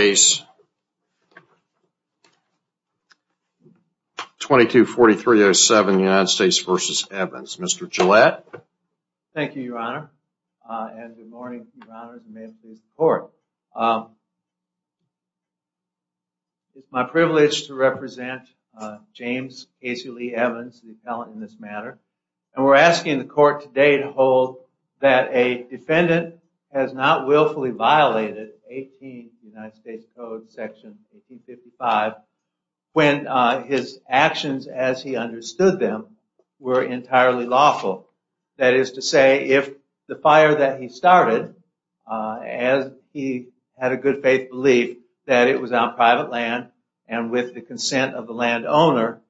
Case 224307 United States v. Evans. Mr. Gillette. Thank you, Your Honor, and good morning, Your Honors, and may it please the Court. It's my privilege to represent James Casey Lee Evans, the appellant in this matter, and we're asking the Court today to hold that a defendant has not willfully violated 18 United States Code section 1855 when his actions as he understood them were entirely lawful. That is to say, if the fire that he started, as he had a good faith belief that it was on private land and with the consent of the landowner,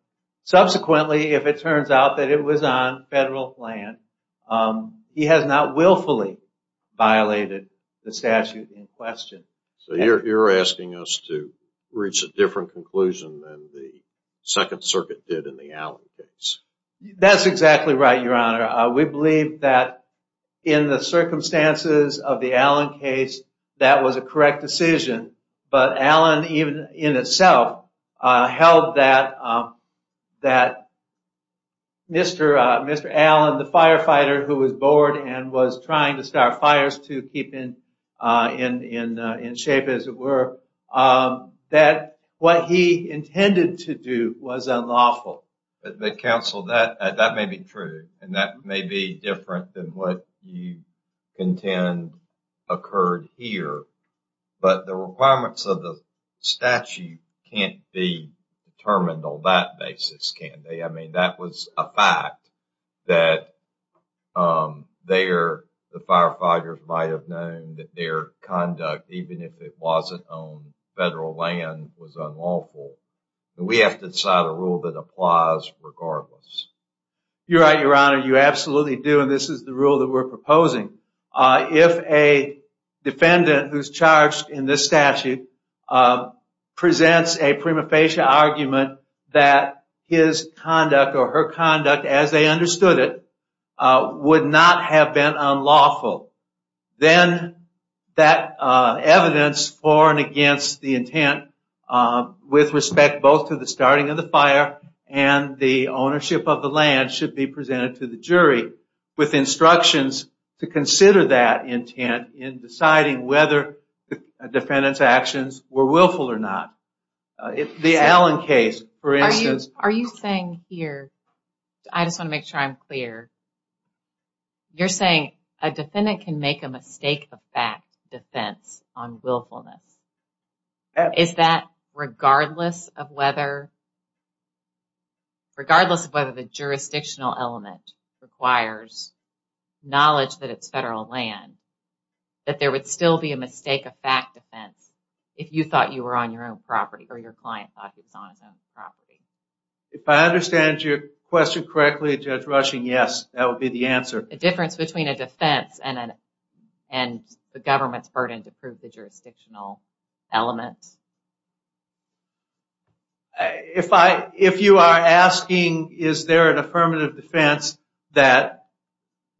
subsequently if it violated the statute in question. So you're asking us to reach a different conclusion than the Second Circuit did in the Allen case. That's exactly right, Your Honor. We believe that in the circumstances of the Allen case, that was a correct decision, but Allen even in itself held that Mr. Allen, the firefighter who was bored and was trying to start fires to keep in shape as it were, that what he intended to do was unlawful. But counsel, that may be true, and that may be different than what you contend occurred here, but the requirements of the determined on that basis can't be. I mean, that was a fact that the firefighters might have known that their conduct, even if it wasn't on federal land, was unlawful. We have to decide a rule that applies regardless. You're right, Your Honor. You absolutely do, and this is the rule that we're arguing that his conduct or her conduct, as they understood it, would not have been unlawful. Then that evidence for and against the intent with respect both to the starting of the fire and the ownership of the land should be presented to the jury with instructions to consider that Allen case, for instance. Are you saying here, I just want to make sure I'm clear, you're saying a defendant can make a mistake of fact defense on willfulness. Is that regardless of whether the jurisdictional element requires knowledge that it's federal land, that there would still be a mistake of fact defense if you thought you were on your own property? If I understand your question correctly, Judge Rushing, yes, that would be the answer. The difference between a defense and the government's burden to prove the jurisdictional element? If you are asking is there an affirmative defense that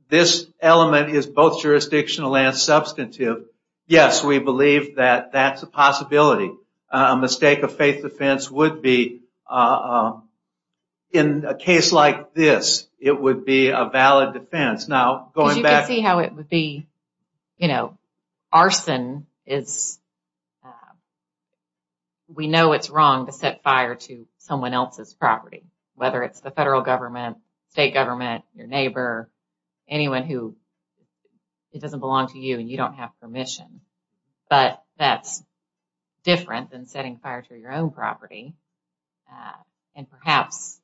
this element is both jurisdictional and substantive, yes, we believe that that's a possibility. A mistake of faith defense would be in a case like this, it would be a valid defense. You can see how it would be, you know, arson is, we know it's wrong to set fire to someone else's property, whether it's the federal government, state government, your neighbor, anyone who doesn't belong to you and you don't have permission, but that's different than setting fire to your own property. And perhaps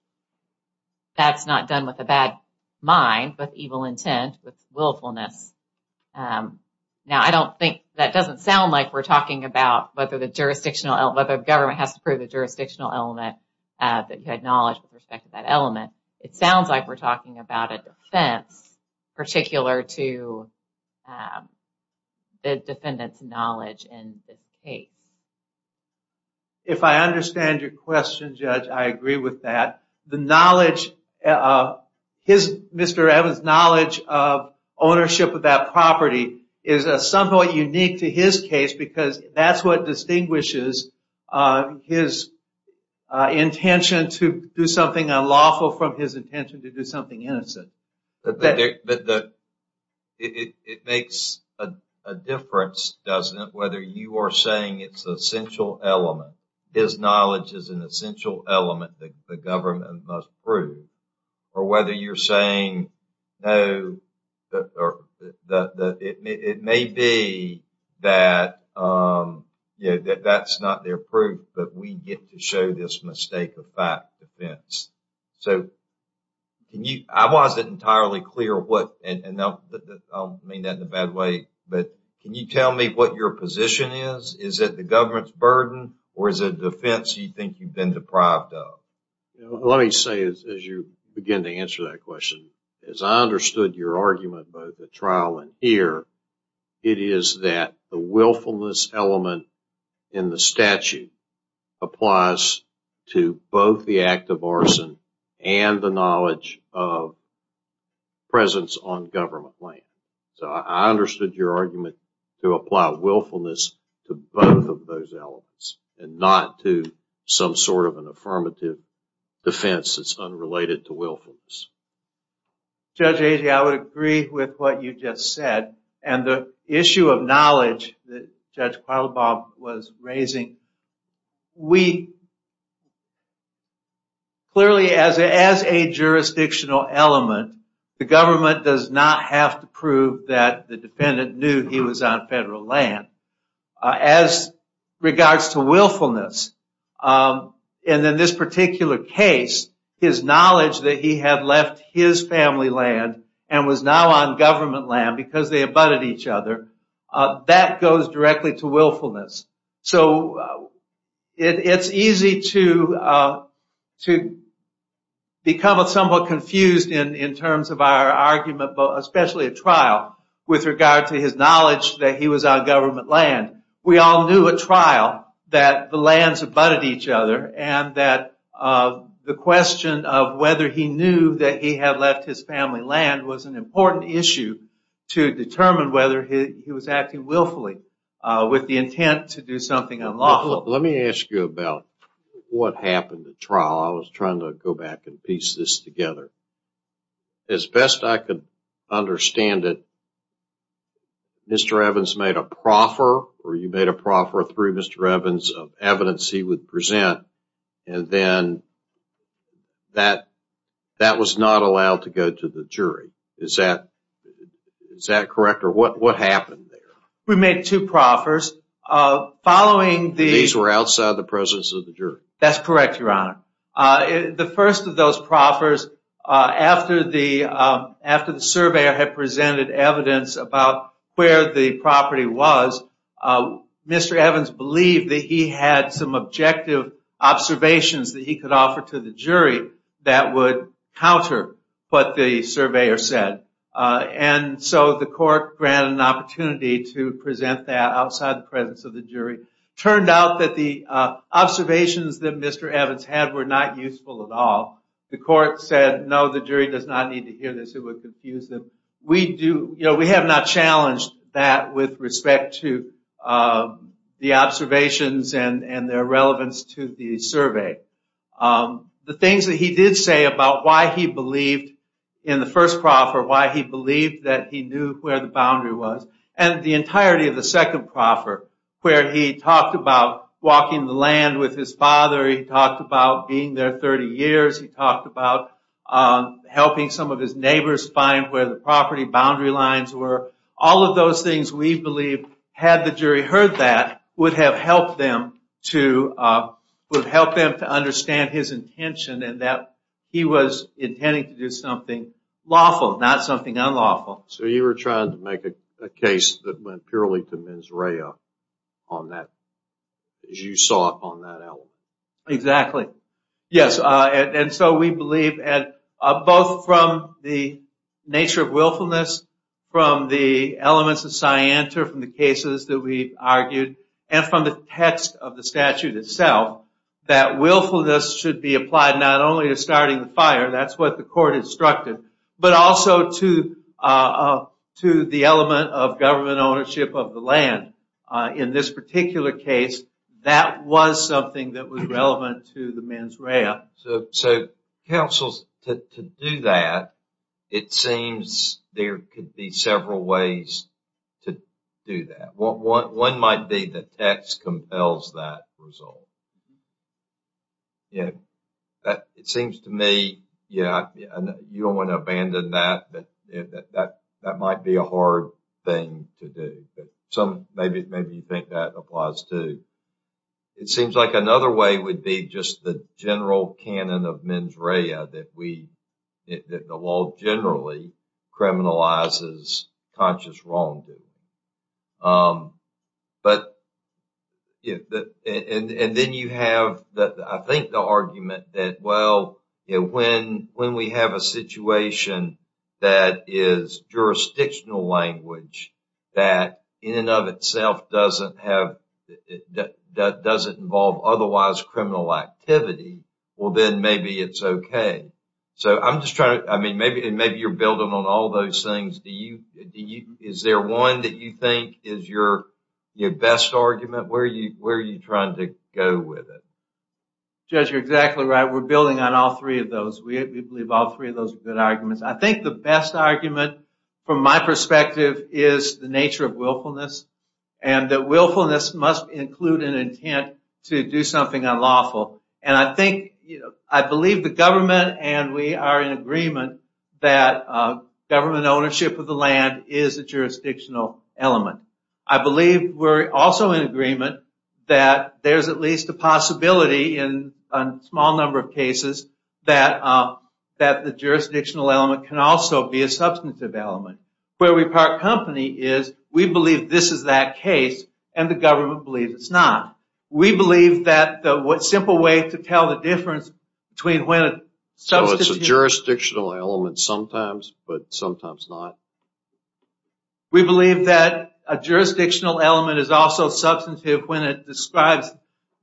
that's not done with a bad mind, but evil intent, with willfulness. Now, I don't think, that doesn't sound like we're talking about whether the jurisdictional, whether the government has to prove the jurisdictional element that you acknowledge with respect to that element. It sounds like we're talking about a defense particular to the defendant's knowledge in this case. If I understand your question, Judge, I agree with that. The knowledge, Mr. Evans' knowledge of ownership of that property is somewhat unique to his case because that's what distinguishes his intention to do something unlawful from his intention to do something innocent. It makes a difference, doesn't it, whether you are saying it's an essential element, his knowledge is an essential element that the government must prove, or whether you're that, you know, that's not their proof, but we get to show this mistake of fact defense. So, can you, I wasn't entirely clear what, and I'll mean that in a bad way, but can you tell me what your position is? Is it the government's burden, or is it a defense you think you've been deprived of? Let me say, as you begin to answer that question, as I understood your argument about the trial in here, it is that the willfulness element in the statute applies to both the act of arson and the knowledge of presence on government land. So, I understood your argument to apply willfulness to both of those elements and not to some sort of an affirmative defense that's unrelated to willfulness. Judge Agee, I would agree with what you just said, and the issue of knowledge that Judge Quattlebaugh was raising, we, clearly as a jurisdictional element, the government does not have to prove that the case, his knowledge that he had left his family land and was now on government land because they abutted each other, that goes directly to willfulness. So, it's easy to become somewhat confused in terms of our argument, but especially a trial with regard to his knowledge that he was on government land. We all knew at trial that the lands abutted each other and that the question of whether he knew that he had left his family land was an important issue to determine whether he was acting willfully with the intent to do something unlawful. Let me ask you about what happened at trial. I was trying to go back and piece this together. As best I could understand it, Mr. Evans made a proffer, or you made a proffer through Mr. Evans of evidence he would present, and then that was not allowed to go to the jury. Is that correct, or what happened there? We made two proffers. These were outside the presence of the jury? That's correct, Your Honor. The first of those proffers, after the surveyor had presented evidence about where the property was, Mr. Evans believed that he had some objective observations that he could offer to the jury that would counter what the surveyor said, and so the court granted an opportunity to present that outside the presence of the jury. Turned out that the observations that Mr. Evans had were not useful at all. The court said no, the jury does not need to hear this. It would confuse them. We have not challenged that with respect to the observations and their relevance to the survey. The things that he did say about why he believed in the first proffer, why he believed that he knew where the boundary was, and the entirety of the second proffer, where he talked about walking the land with his father, he talked about being there 30 years, he talked about helping some of his neighbors find where the property boundary lines were. All of those things we believe, had the jury heard that, would have helped them to understand his intention and that he was intending to do something lawful, not something unlawful. So you were trying to make a case that went purely to mens rea on that, as you saw it on that element. Exactly. Yes, and so we believe, both from the nature of willfulness, from the elements of scienter, from the cases that we argued, and from the text of the statute itself, that willfulness should be applied not only to starting the fire, that's the court instructed, but also to the element of government ownership of the land. In this particular case, that was something that was relevant to the mens rea. So counsels, to do that, it seems there could be several ways to do that. One might be the text compels that result. Yeah, it seems to me, yeah, you don't want to abandon that, but that might be a hard thing to do. But some, maybe you think that applies too. It seems like another way would be just the general canon of mens rea that we, that the law generally criminalizes conscious wrongdoing. But, and then you have, I think the argument that, well, when we have a situation that is jurisdictional language, that in and of itself doesn't have, that doesn't involve otherwise criminal activity, well then maybe it's okay. So I'm just trying to, I mean, maybe you're building on all those things. Do you, is there one that you think is your best argument? Where are you trying to go with it? Judge, you're exactly right. We're building on all three of those. We believe all three of those are good arguments. I think the best argument, from my perspective, is the nature of willfulness. And that willfulness must include an intent to do something unlawful. And I think, I believe the government and we are in agreement that government ownership of the land is a jurisdictional element. I believe we're also in agreement that there's at least a possibility in a small number of cases that the jurisdictional element can also be a substantive element. Where we part company is we believe this is that case and the government believes it's not. We believe that the simple way to tell the difference between when it's so it's a jurisdictional element sometimes but sometimes not. We believe that a jurisdictional element is also substantive when it describes,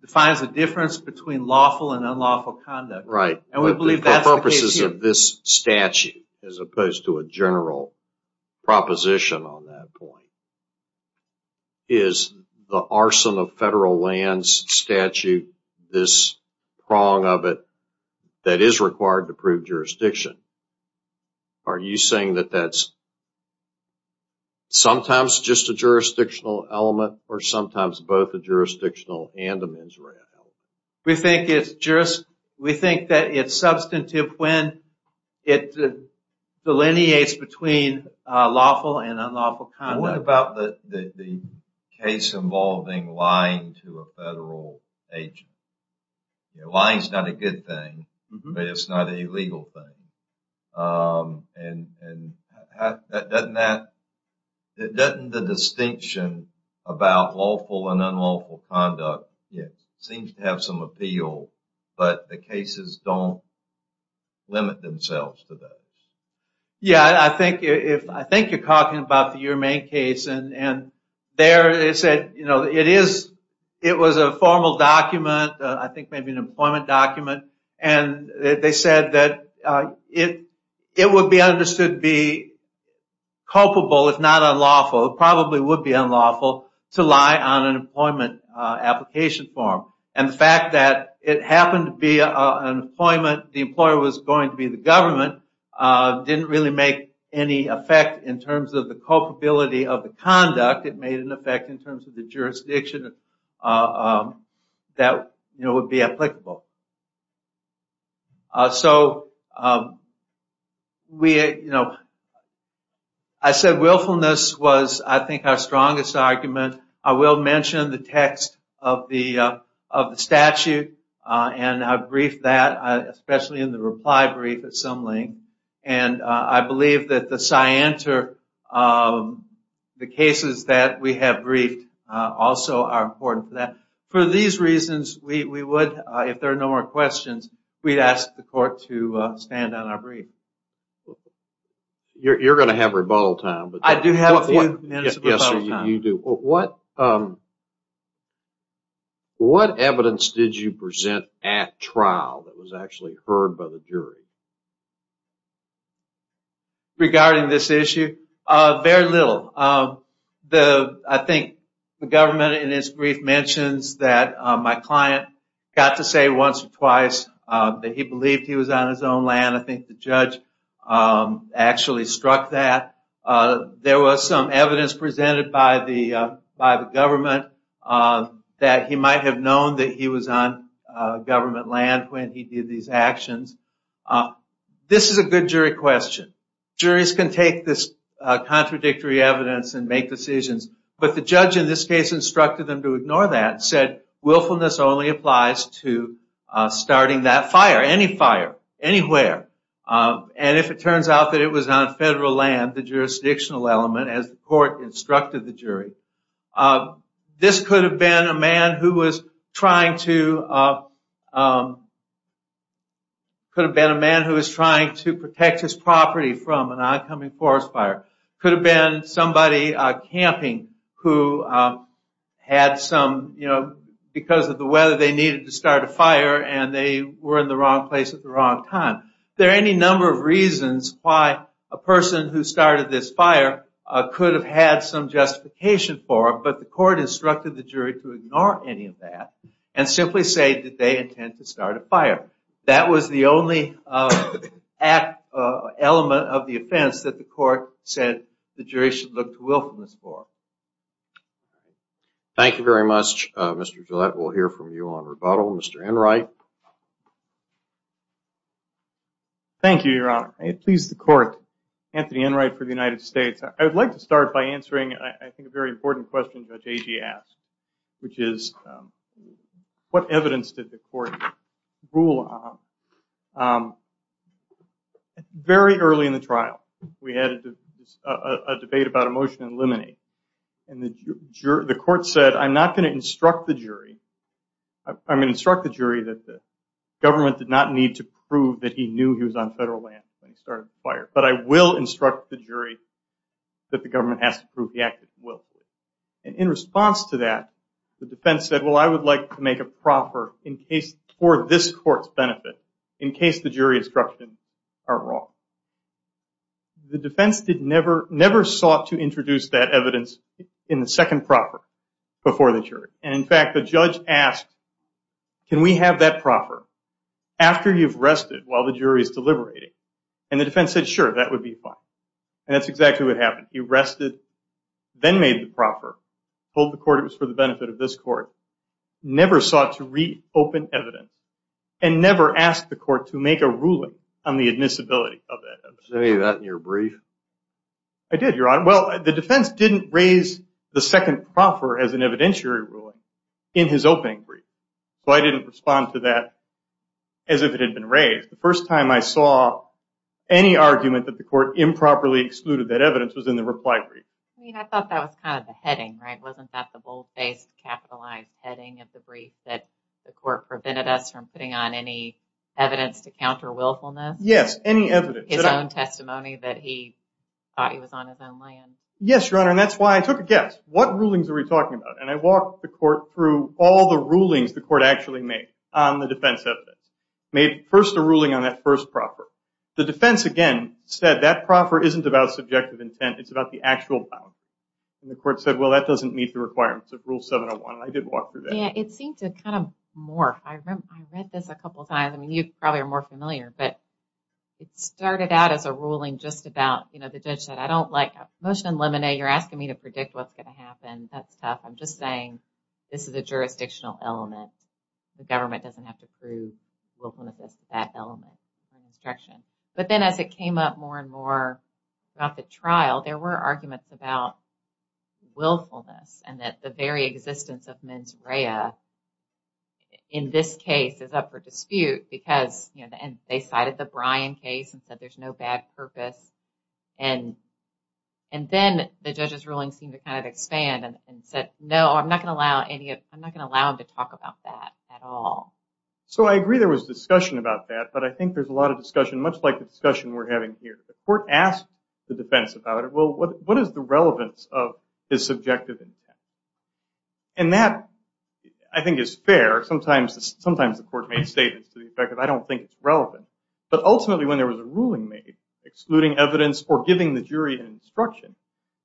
defines the difference between lawful and unlawful conduct. Right. And we believe that purposes of this statute as opposed to a general proposition on that point is the arson of federal lands statute, this prong of it that is required to prove jurisdiction. Are you saying that that's sometimes just a jurisdictional element or sometimes both a jurisdictional and a mens rea element? We think it's just, we think that it's unlawful conduct. What about the case involving lying to a federal agent? Lying is not a good thing but it's not a legal thing. And doesn't that, doesn't the distinction about lawful and unlawful conduct seem to have some appeal but the cases don't limit themselves to those? Yeah I think if, I think you're talking about the Uremain case and there it said you know it is, it was a formal document, I think maybe an employment document and they said that it it would be understood to be culpable if not unlawful. It probably would be unlawful to lie on an employment application form and the fact that it happened to be an employment, the employer was going to be the government, didn't really make any effect in terms of the culpability of the conduct. It made an effect in terms of the jurisdiction that you know would be applicable. So we, you know, I said willfulness was I think our strongest argument. I will mention the text of the statute and I've briefed that especially in the reply brief at some length. And I believe that the cyanter, the cases that we have briefed also are important for that. For these reasons we would, if there are no more questions, we'd ask the court to stand on our brief. You're going to have rebuttal time. I do have a few minutes of rebuttal time. What evidence did you present at trial that was actually heard by the jury? Regarding this issue, very little. I think the government in its brief mentions that my client got to say once or twice that he believed he was on his own land. I think the judge actually struck that. There was some evidence presented by the government that he might have known that he was on government land when he did these actions. This is a good jury question. Juries can take this contradictory evidence and make decisions. But the judge in this case instructed them to ignore that, said willfulness only applies to starting that fire, any fire, anywhere. And if it turns out that it was on federal land, the jurisdictional element as the court instructed the jury. This could have been a man who was trying to protect his property from an oncoming forest fire. Could have been somebody camping who had some, you know, because of the weather they needed to start a fire and they were in the wrong place at the wrong time. There are any number of reasons why a person who started this fire could have had some justification for it. But the court instructed the jury to ignore any of that and simply say that they intend to start a fire. That was the only element of the offense that the court said the jury should look to willfulness for. Thank you very much, Mr. Gillette. We'll hear from you on rebuttal. Mr. Enright. Thank you, Your Honor. I please the court, Anthony Enright for the United States. I would like to start by answering, I think, a very important question Judge Agee asked, which is what evidence did the court rule on very early in the trial? We had a debate about a motion to eliminate. And the court said, I'm not going to instruct the jury. I'm going to instruct the jury that the government did not need to prove that he knew he was on federal land when he started the fire. But I will instruct the jury that the government has to prove he acted willfully. And in response to that, the defense said, well, I would like to make a proffer for this court's benefit in case the jury instructions are wrong. The defense never sought to introduce that evidence in the second proffer before the jury. And in fact, the judge asked, can we have that proffer after you've rested while the jury is deliberating? And the defense said, sure, that would be fine. And that's exactly what happened. He rested, then made the proffer, told the court it was for the benefit of this court, never sought to reopen evidence, and never asked the court to make a ruling on the admissibility of that evidence. Did you say that in your brief? I did, Your Honor. Well, the defense didn't raise the second proffer as an evidentiary ruling in his opening brief. So I didn't respond to that as if it had been raised. The first time I saw any argument that the court improperly excluded that evidence was in the reply brief. I mean, I thought that was kind of the heading, right? Wasn't that the bold-faced, capitalized heading of the brief, that the court prevented us from putting on any evidence to counter willfulness? Yes, any evidence. His own testimony that he thought he was on his own land. Yes, Your Honor. And that's why I took a guess. What rulings are we talking about? And I walked the court through all the rulings the court actually made on the defense evidence. Made first a ruling on that first proffer. The defense, again, said that proffer isn't about subjective intent. It's about the actual bound. And the court said, well, that doesn't meet the requirements of Rule 701. And I did walk through that. Yeah, it seemed to kind of morph. I read this a couple times. I mean, you probably are more familiar, but it started out as a ruling just about, you know, the judge said, I don't like motion in limine. You're asking me to predict what's going to happen. That's tough. I'm just saying this is a jurisdictional element. The government doesn't have to prove willfulness to that element, that instruction. But then as it came up more and more throughout the trial, there were arguments about willfulness and that the very existence of mens rea in this case is up for dispute because, you know, they cited the Bryan case and said there's no bad purpose. And then the judge's ruling seemed to kind of expand and said, no, I'm not going to allow any of, I'm not going to allow him to talk about that at all. So I agree there was discussion about that, but I think there's a lot of discussion, much like the courtroom here. The court asked the defense about it. Well, what is the relevance of his subjective intent? And that, I think, is fair. Sometimes the court may say this to the effect that I don't think it's relevant, but ultimately when there was a ruling made excluding evidence or giving the jury an instruction,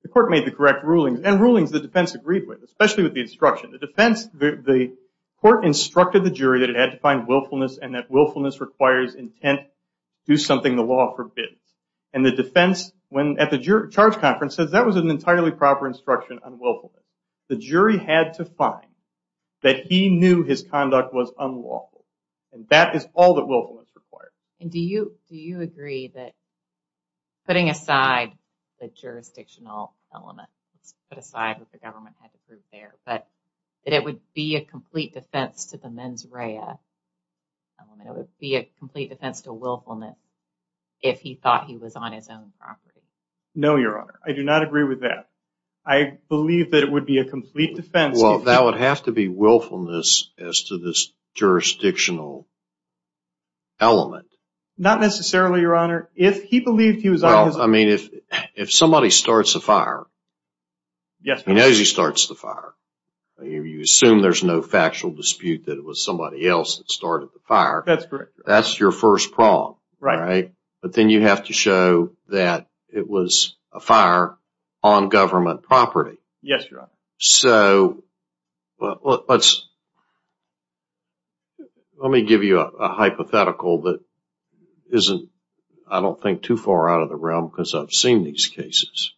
the court made the correct rulings and rulings the defense agreed with, especially with the instruction. The defense, the court instructed the jury that it had to find willfulness and that willfulness requires intent, do something the law forbids. And the defense when at the charge conference says that was an entirely proper instruction on willfulness. The jury had to find that he knew his conduct was unlawful. And that is all that willfulness required. And do you agree that putting aside the jurisdictional element, put aside what the element would be a complete defense to willfulness if he thought he was on his own property? No, your honor. I do not agree with that. I believe that it would be a complete defense. Well, that would have to be willfulness as to this jurisdictional element. Not necessarily, your honor. If he believed he was on his own. I mean, if somebody starts a fire, he knows he starts the fire. You assume there's no fire. That's correct. That's your first problem, right? But then you have to show that it was a fire on government property. Yes, your honor. So, let's, let me give you a hypothetical that isn't, I don't think too far out of the realm because I've seen these cases.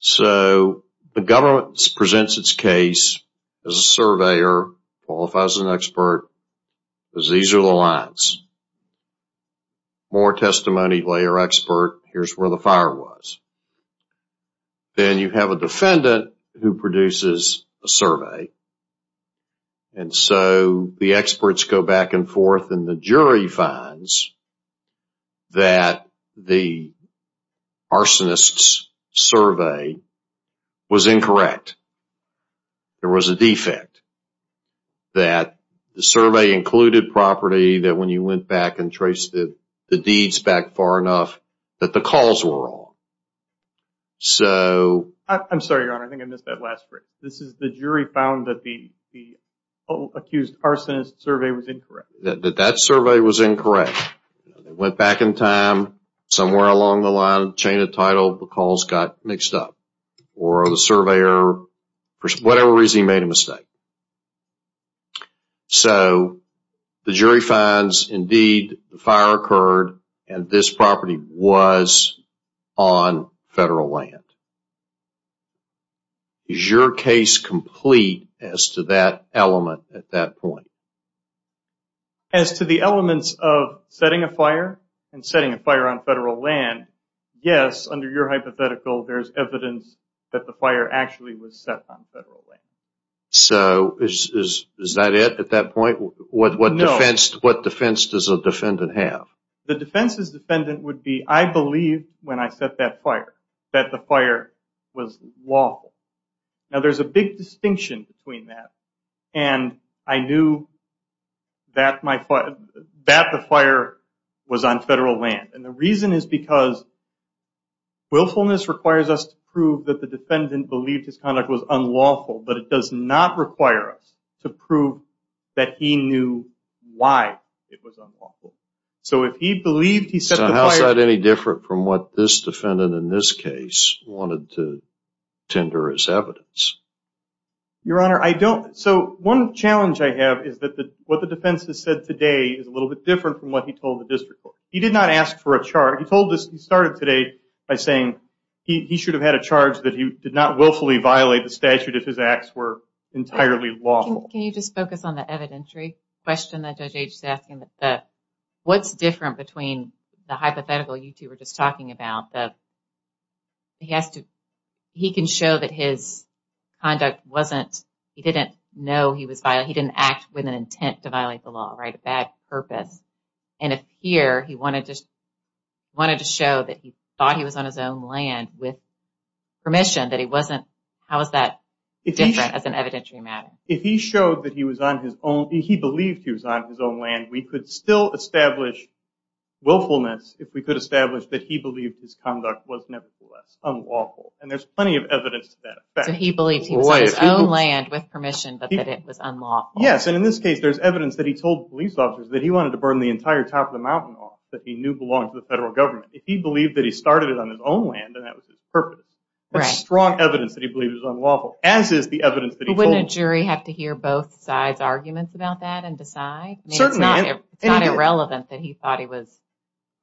So, the government presents its case as a surveyor, qualifies as an expert, because these are the lines. More testimony, layer expert, here's where the fire was. Then you have a defendant who produces a survey. And so, the experts go back and forth and the jury finds that the arsonist's survey was incorrect. There was a defect. That the survey included property that when you went back and traced the deeds back far enough that the calls were wrong. So, I'm sorry, your honor. I think I missed that last phrase. This is the jury found that the survey was incorrect. Went back in time, somewhere along the line, chain of title, the calls got mixed up. Or the surveyor, for whatever reason, made a mistake. So, the jury finds indeed the fire occurred and this property was on federal land. Is your case complete as to that element at that point? As to the elements of setting a fire and setting a fire on federal land, yes, under your hypothetical, there's evidence that the fire actually was set on federal land. So, is that it at that point? No. What defense does a defendant have? The defense's defendant would be, I believe when I set that fire that the fire was lawful. Now, there's a big distinction between that and I knew that the fire was on federal land. And the reason is because willfulness requires us to prove that the defendant believed his conduct was unlawful, but it does not require us to prove that he knew why it was unlawful. So, if he believed he set the fire... So, how is that any different from what this defendant in this case wanted to tender his evidence? Your Honor, I don't... So, one challenge I have is that what the defense has said today is a little bit different from what he told the district court. He did not ask for a charge. He started today by saying he should have had a charge that he did not willfully violate the statute if his acts were entirely lawful. Can you just focus on the evidentiary question that Judge H is asking? What's different between the hypothetical you two were just talking about? That he has to... He can show that his conduct wasn't... He didn't know he was... He didn't act with an intent to violate the law, right? A bad purpose. And if here he wanted to show that he thought he was on his own land with permission, that he wasn't... How is that different as an evidentiary matter? If he showed that he was on his own... He believed he was on his own land, we could still establish willfulness if we could establish that he believed his conduct was nevertheless unlawful. And there's plenty of evidence to that effect. So, he believed he was on his own land with permission, but that it was unlawful. Yes. And in this case, there's evidence that he told police officers that he wanted to burn the entire top of the mountain off that he knew belonged to the federal government. If he believed that he started it on his own land and that was his purpose, there's strong evidence that he believed it was unlawful, as is the evidence that he told... Wouldn't a jury have to hear both sides' arguments about that and decide? Certainly. It's not irrelevant that he thought he was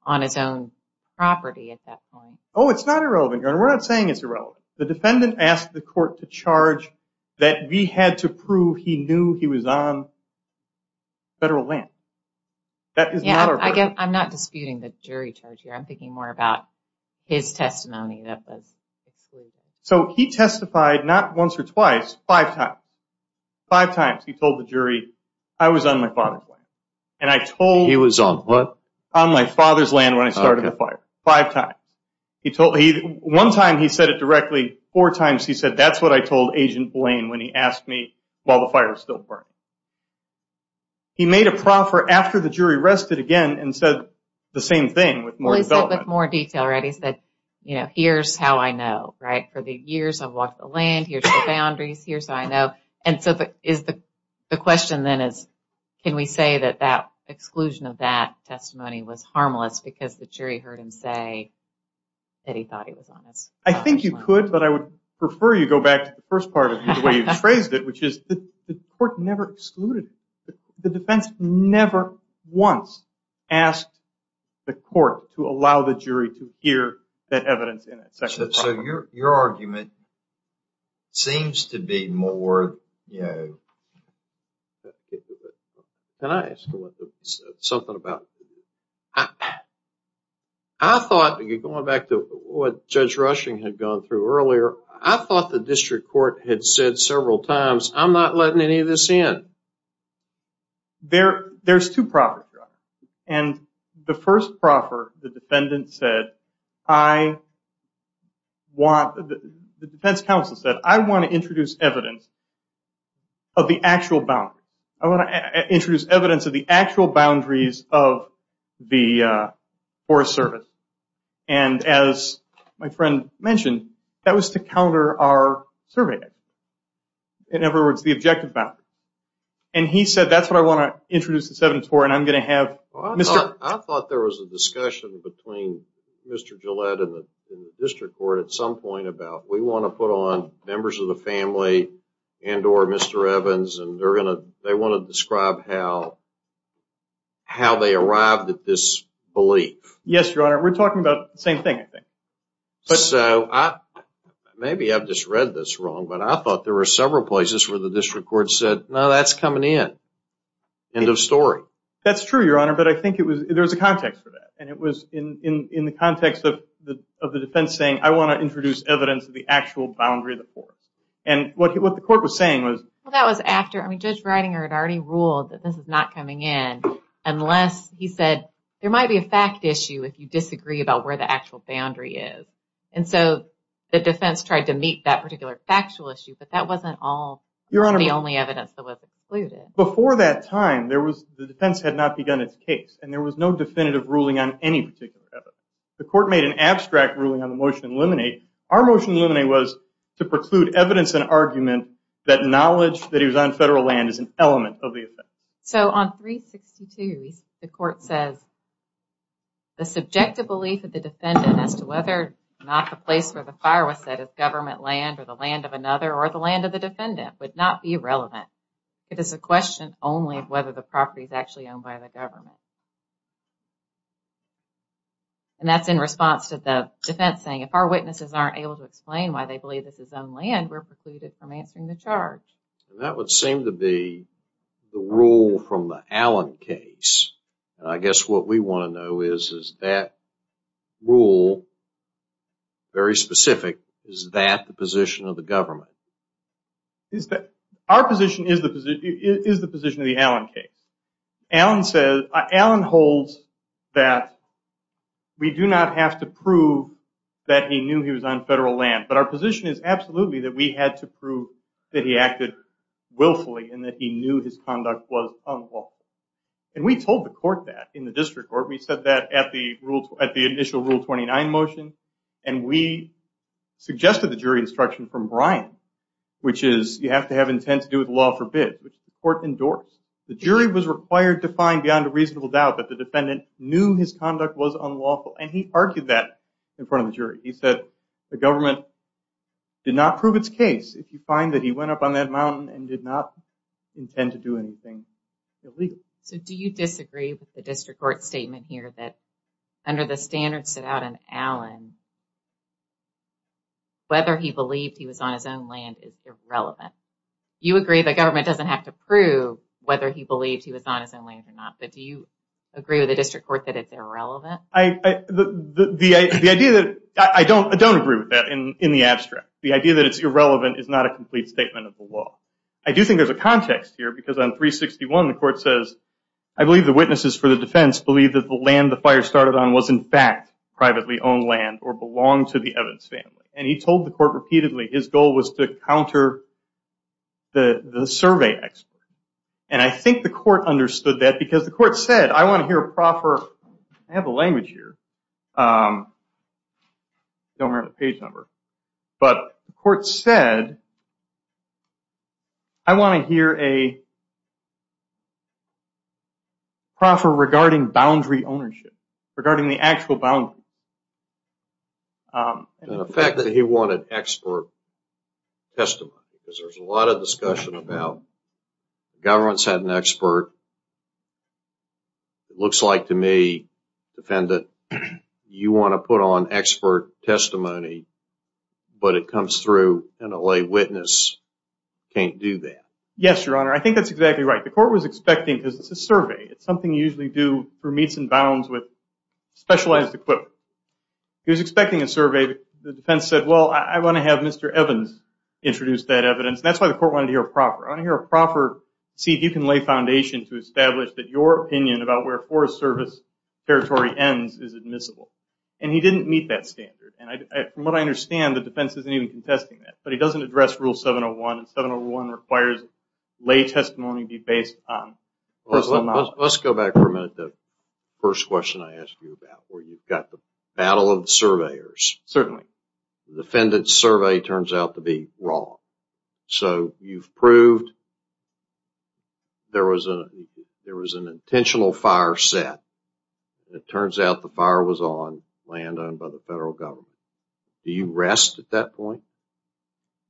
on his own property at that point. Oh, it's not irrelevant, Your Honor. We're not saying it's irrelevant. The defendant asked the court to charge that we had to prove he knew he was on federal land. That is not our burden. I'm not disputing the jury charge here. I'm thinking more about his testimony that was excluded. So, he testified not once or twice, five times. Five times, he told the jury, I was on my father's land. And I told... He was on what? On my father's land when I started the fire. Five times. One time, he said it directly. Four times, he said, that's what I told Agent Blaine when he asked me while the fire was still burning. He made a proffer after the jury rested again and said the same thing with more development. Well, he said with more detail, right? He said, here's how I know, right? For the years I've walked the land, here's the boundaries, here's how I know. And so, the question then is, can we say that that exclusion of that testimony was harmless because the jury heard him say that he thought he was honest? I think you could, but I would prefer you go back to the first part of the way you phrased it, which is the court never excluded him. The defense never once asked the court to allow the jury to hear that evidence. So, your argument seems to be more... Can I ask something about it? I thought, going back to what Judge Rushing had gone through earlier, I thought the district court had said several times, I'm not letting any of this in. There's two proffers, and the first proffer, the defendant said, the defense counsel said, I want to introduce evidence of the actual boundaries. I want to introduce evidence of the actual boundaries of the Forest Service. And as my friend mentioned, that was to counter our survey evidence. In other words, the objective boundary. And he said, that's what I want to introduce this evidence for, and I'm going to have... I thought there was a discussion between Mr. Gillette and the district court at some point about, we want to put on members of the family and or Mr. Evans, and they're going to, they want to describe how they arrived at this belief. Yes, your honor. We're talking about the same thing, I think. So, maybe I've just read this wrong, but I thought there were several places where the district court said, no, that's coming in. End of story. That's true, your honor, but I think it was, there was a context for that. And it was in the context of the defense saying, I want to introduce evidence of the actual boundary of the forest. And what the court was saying was... Well, that was after, I mean, Judge Ridinger had already ruled that this is not coming in, unless he said, there might be a fact issue if you disagree about where the actual boundary is. And so, the defense tried to meet that particular factual issue, but that wasn't all... Your honor... The only evidence that was included. Before that time, there was, the defense had not begun its case, and there was no definitive ruling on any particular evidence. The court made an abstract ruling on the motion to eliminate. Our motion to eliminate was to preclude evidence and argument that knowledge that he was on federal land is an element of the offense. So, on 362, the court says, the subjective belief of the defendant as to whether or not the place where the fire was set is government land, or the land of another, or the land of the defendant, would not be relevant. It is a question only of whether the property is actually owned by the government. And that's in response to the defense saying, if our witnesses aren't able to explain why they believe this is owned land, we're precluded from answering the charge. That would seem to be the rule from the Allen case. I guess what we want to know is, is that rule very specific? Is that the position of the government? Our position is the position of the Allen case. Allen holds that we do not have to prove that he knew he was on federal land, but our position is absolutely that we had to prove that he acted willfully, and that he knew his conduct was unlawful. And we told the court that in the district court. We said that at the initial Rule 29 motion, and we suggested the jury instruction from Brian, which is, you have to have intent to do with law forbid, which the court endorsed. The jury was required to find beyond a reasonable doubt that the defendant knew his conduct was unlawful, and he argued that in front of the jury. He said the government did not prove its case. If you find that he went up on that mountain and did not intend to do anything illegal. So do you disagree with the district court statement here that under the standards set out in Allen, whether he believed he was on his own land is irrelevant? You agree the government doesn't have to prove whether he believed he was on his own land or not, but do you agree with the district court that it's irrelevant? I don't agree with that in the abstract. The idea that it's irrelevant is not a complete statement of the law. I do think there's a context here, because on 361, the court says, I believe the witnesses for the defense believe that the land the fire started on was, in fact, privately owned land or belonged to the Evans family. And he told the court repeatedly his goal was to counter the survey expert. And I think the court understood that, because the court said, I want to hear a proper, I have a language here. Don't have a page number. But the court said, I want to hear a proper regarding boundary ownership, regarding the actual boundary. And the fact that he wanted expert testimony, because there's a lot of discussion about government's had an expert. It looks like to me, defendant, you want to put on expert testimony, but it comes through and a lay witness can't do that. Yes, your honor. I think that's exactly right. The court was expecting, because it's a survey. It's something you usually do for meets and bounds with specialized equipment. He was expecting a survey. The defense said, well, I want to have Mr. Evans introduce that evidence. That's why the court wanted to hear a proper. I want to hear a proper, see if you can lay foundation to establish that your opinion about where Forest Service territory ends is admissible. And he didn't meet that standard. And from what I understand, the defense isn't even contesting that. But he doesn't address rule 701. And 701 requires lay testimony be based on. Let's go back for a minute to the first question I asked you about, where you've got the battle of the surveyors. Certainly. The defendant's survey turns out to be wrong. So you've proved there was an intentional fire set. It turns out the fire was on land owned by the federal government. Do you rest at that point?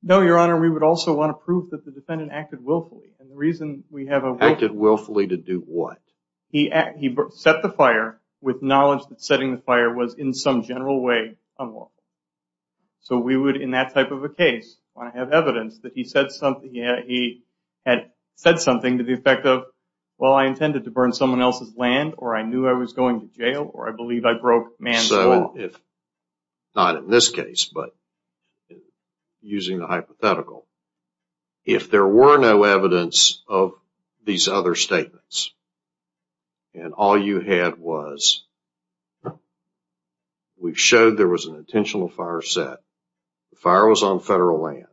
No, your honor. We would also want to prove that the defendant acted willfully. And the reason we have a willfully. Acted willfully to do what? He set the fire with knowledge that setting the fire was, in some general way, unlawful. So we would, in that type of a case, want to have evidence that he said something. He had said something to the effect of, well, I intended to burn someone else's land. Or I knew I was going to jail. Or I believe I broke man's law. If not in this case, but using the hypothetical. If there were no evidence of these other statements. And all you had was. No. We've showed there was an intentional fire set. The fire was on federal land.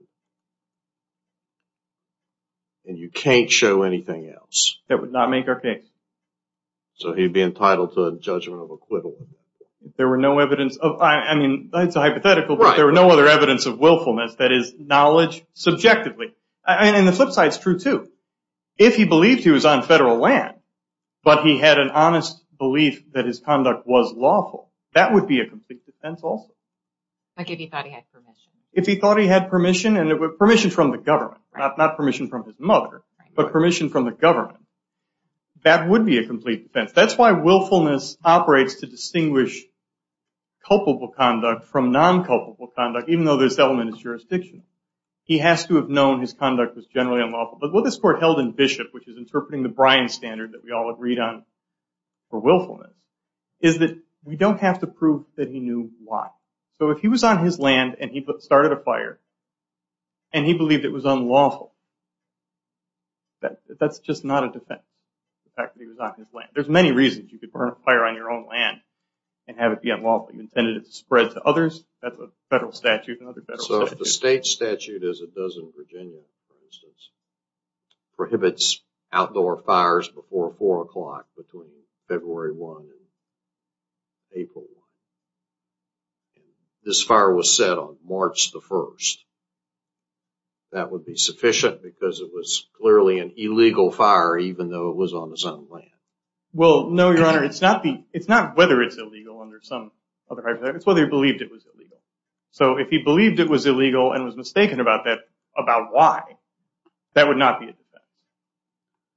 And you can't show anything else. That would not make our case. So he'd be entitled to a judgment of acquittal. There were no evidence of, I mean, that's a hypothetical. But there were no other evidence of willfulness. That is knowledge subjectively. And the flip side is true too. If he believed he was on federal land. But he had an honest belief that his conduct was lawful. That would be a complete defense also. Like if he thought he had permission. If he thought he had permission. And it was permission from the government. Not permission from his mother. But permission from the government. That would be a complete defense. That's why willfulness operates to distinguish culpable conduct from non-culpable conduct. Even though this element is jurisdictional. He has to have known his conduct was generally unlawful. But what this court held in Bishop. Which is interpreting the Bryan standard. That we all agreed on for willfulness. Is that we don't have to prove that he knew why. So if he was on his land. And he started a fire. And he believed it was unlawful. That's just not a defense. The fact that he was on his land. There's many reasons you could burn a fire on your own land. And have it be unlawful. You intended it to spread to others. That's a federal statute. And other federal statutes. So if the state statute as it does in Virginia, for instance. Prohibits outdoor fires before 4 o'clock. Between February 1 and April 1. This fire was set on March the 1st. That would be sufficient. Because it was clearly an illegal fire. Even though it was on his own land. Well, no your honor. It's not whether it's illegal. Under some other criteria. It's whether he believed it was illegal. So if he believed it was illegal. And was mistaken about that. About why. That would not be a defense.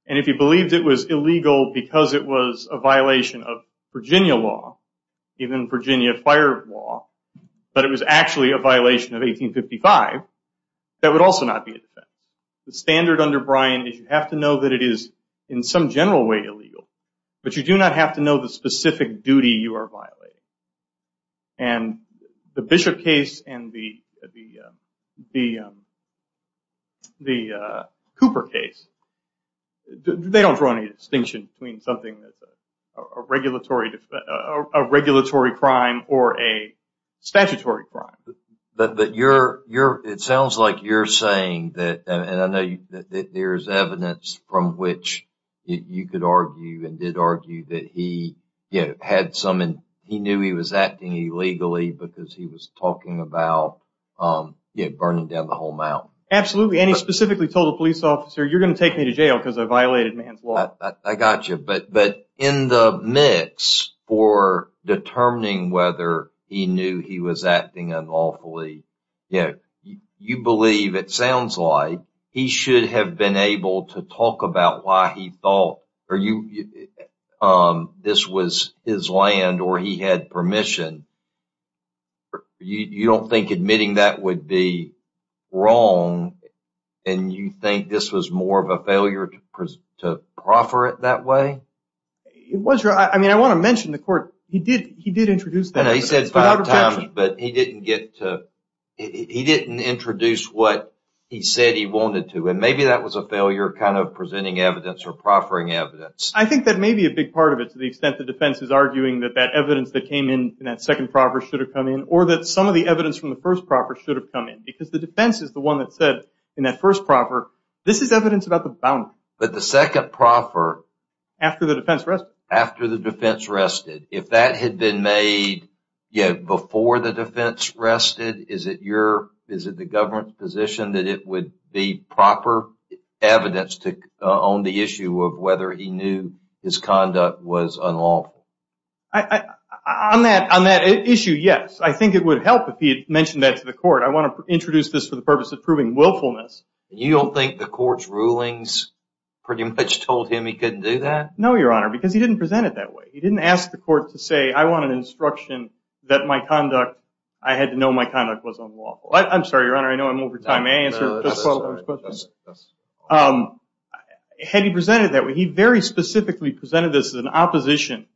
And if he believed it was illegal. Because it was a violation of Virginia law. Even Virginia fire law. But it was actually a violation of 1855. That would also not be a defense. The standard under Bryan. Is you have to know that it is in some general way illegal. But you do not have to know the specific duty you are violating. And the Bishop case. And the Cooper case. They don't draw any distinction. Between something that's a regulatory crime. Or a statutory crime. But it sounds like you're saying that. And I know that there's evidence. From which you could argue. And did argue that he had some. And he knew he was acting illegally. Because he was talking about. Burning down the whole mountain. Absolutely. And he specifically told a police officer. You're going to take me to jail. Because I violated man's law. I got you. But in the mix. For determining whether. He knew he was acting unlawfully. You believe it sounds like. He should have been able to talk about. Why he thought. Are you. This was his land. Or he had permission. You don't think admitting that. Would be wrong. And you think this was more of a failure. To proffer it that way. It was. I mean I want to mention the court. He did. He did introduce that. He said five times. But he didn't get to. He didn't introduce what. He said he wanted to. And maybe that was a failure. Kind of presenting evidence. Or proffering evidence. I think that may be a big part of it. To the extent the defense is arguing. That that evidence that came in. That second proper should have come in. Or that some of the evidence from. The first proper should have come in. Because the defense is the one that said. In that first proper. This is evidence about the boundary. But the second proffer. After the defense rested. After the defense rested. If that had been made. Yet before the defense rested. Is it your. Is it the government's position. That it would be proper. Evidence to own the issue. Of whether he knew. His conduct was unlawful. I. On that. On that issue. Yes. I think it would help. If he had mentioned that to the court. I want to introduce this. For the purpose of proving willfulness. You don't think the court's rulings. Pretty much told him. He couldn't do that. No your honor. Because he didn't present it that way. He didn't ask the court to say. I want an instruction. That my conduct. I had to know my conduct was unlawful. I'm sorry your honor. I know I'm over time. May I answer. Had he presented that way. He very specifically presented this. As an opposition.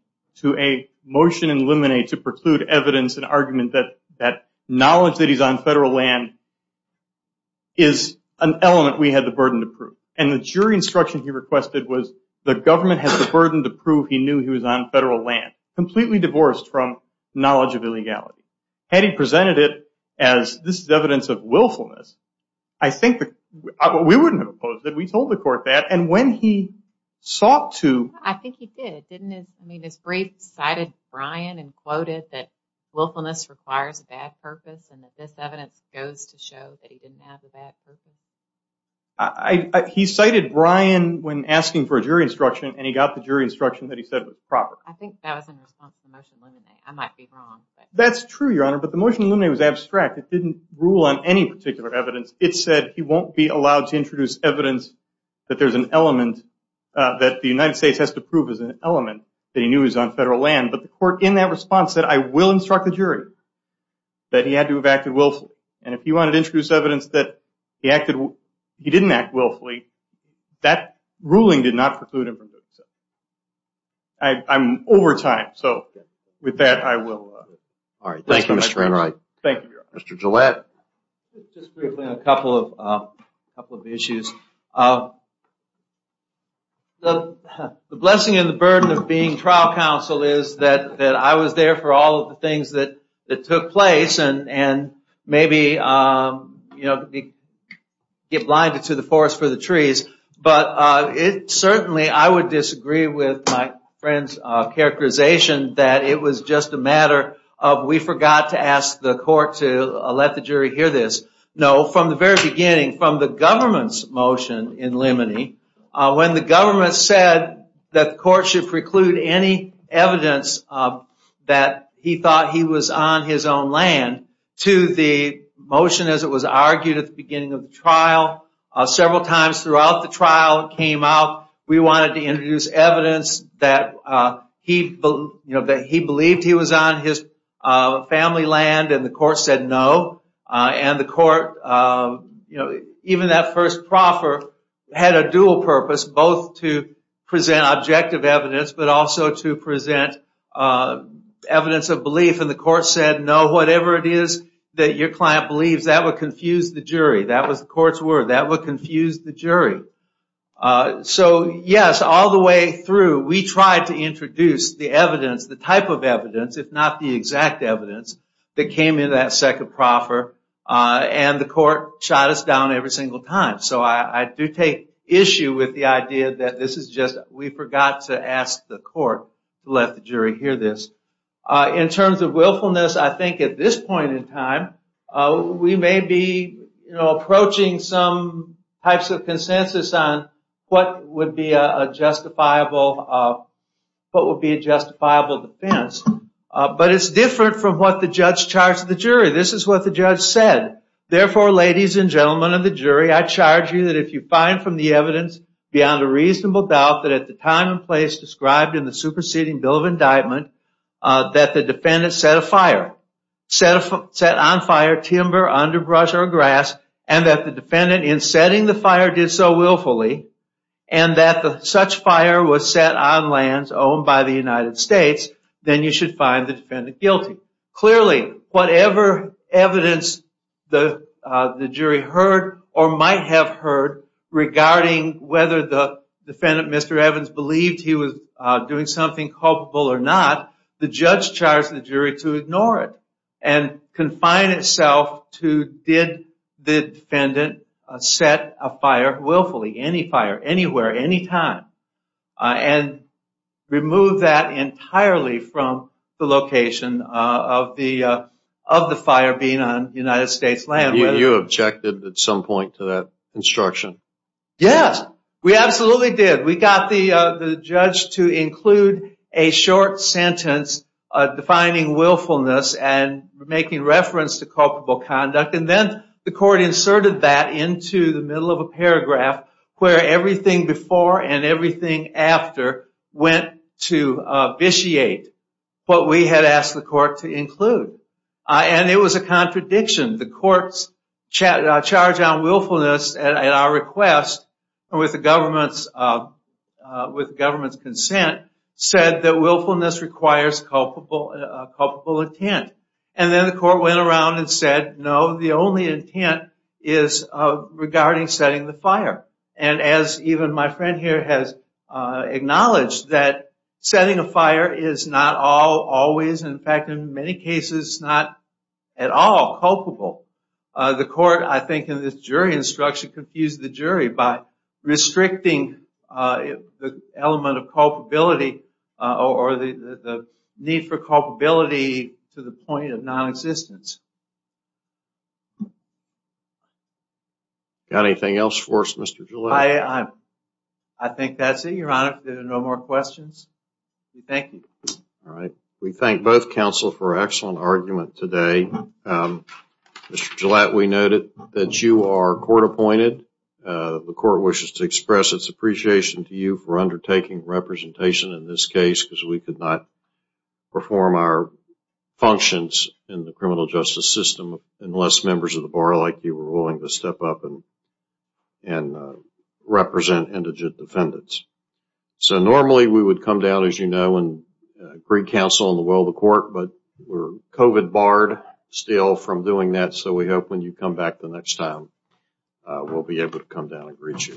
To a motion in limine. To preclude evidence. An argument that. That knowledge that he's on federal land. Is an element. We had the burden to prove. And the jury instruction he requested was. The government has the burden to prove. He knew he was on federal land. Completely divorced from. Knowledge of illegality. Had he presented it. As this is evidence of willfulness. I think that. We wouldn't have opposed it. We told the court that. And when he. Sought to. I think he did. Didn't it. This brief cited. Brian and quoted that. Willfulness requires a bad purpose. And that this evidence goes to show. That he didn't have a bad purpose. He cited Brian. When asking for a jury instruction. And he got the jury instruction. That he said was proper. I think that was in response. To the motion in limine. I might be wrong. That's true your honor. But the motion in limine was abstract. It didn't rule on any particular evidence. It said he won't be allowed. To introduce evidence. That there's an element. That the United States. Has to prove as an element. He knew he was on federal land. But the court in that response. Said I will instruct the jury. That he had to have acted willfully. And if he wanted to introduce evidence. That he acted. He didn't act willfully. That ruling did not preclude him from doing so. I'm over time. So with that I will. All right. Thank you Mr. Enright. Thank you your honor. Mr. Gillette. Just briefly on a couple of. A couple of issues. The blessing and the burden. Of being trial counsel. Is that I was there. For all of the things. That took place. And maybe. Get blinded to the forest for the trees. But it certainly. I would disagree with. My friend's characterization. That it was just a matter. Of we forgot to ask the court. To let the jury hear this. No from the very beginning. From the government's motion. In Lemony. When the government said. That the court should preclude any evidence. That he thought he was on his own land. To the motion as it was argued. At the beginning of the trial. Several times throughout the trial. It came out. We wanted to introduce evidence. That he believed he was on his family land. And the court said no. And the court. Even that first proffer. Had a dual purpose. Both to present objective evidence. But also to present evidence of belief. And the court said no. Whatever it is. That your client believes. That would confuse the jury. That was the court's word. That would confuse the jury. So yes. All the way through. We tried to introduce the evidence. The type of evidence. If not the exact evidence. That came in that second proffer. And the court shot us down. Every single time. So I do take issue with the idea. That this is just. We forgot to ask the court. Let the jury hear this. In terms of willfulness. I think at this point in time. We may be approaching. Some types of consensus. On what would be a justifiable. What would be a justifiable defense. But it's different. From what the judge charged the jury. This is what the judge said. Therefore ladies and gentlemen of the jury. I charge you. That if you find from the evidence. Beyond a reasonable doubt. That at the time and place. Described in the superseding bill of indictment. That the defendant set a fire. Set on fire. Timber, underbrush or grass. And that the defendant. In setting the fire. Did so willfully. And that the such fire. Was set on lands. Owned by the United States. Then you should find the defendant guilty. Clearly. Whatever evidence. The jury heard. Or might have heard. Regarding whether the. Defendant Mr. Evans. Believed he was doing something. Culpable or not. The judge charged the jury. To ignore it. And confine itself. To did the defendant. Set a fire willfully. Any fire. Anywhere. Anytime. And remove that. Entirely from. The location of the. Of the fire. Being on United States land. You objected at some point. To that instruction. Yes. We absolutely did. We got the judge. To include a short sentence. Defining willfulness. And making reference. To culpable conduct. And then. The court inserted that. Into the middle of a paragraph. Where everything before. And everything after. Went to vitiate. What we had asked the court. To include. And it was a contradiction. The court's. Charge on willfulness. At our request. With the government's. With government's consent. Said that willfulness. Requires culpable intent. And then the court went around. And said no. The only intent. Is regarding setting the fire. And as even my friend here. Has acknowledged. That setting a fire. Is not all always. In fact in many cases. Not at all culpable. The court. I think in this jury instruction. Confused the jury. By restricting. The element of culpability. Or the need for culpability. To the point of non-existence. Got anything else for us Mr. Gillette? I think that's it. Your Honor. If there are no more questions. We thank you. All right. We thank both counsel. For excellent argument today. Mr. Gillette. We noted. That you are court appointed. The court wishes to express. Its appreciation to you. In this case. Because we could not. Perform our. Functions. In the criminal justice system. And we thank you for that. Unless members of the bar. Like you were willing to step up. And represent indigent defendants. So normally. We would come down as you know. And greet counsel. And well the court. But we're COVID barred. Still from doing that. So we hope when you come back the next time. We'll be able to come down and greet you.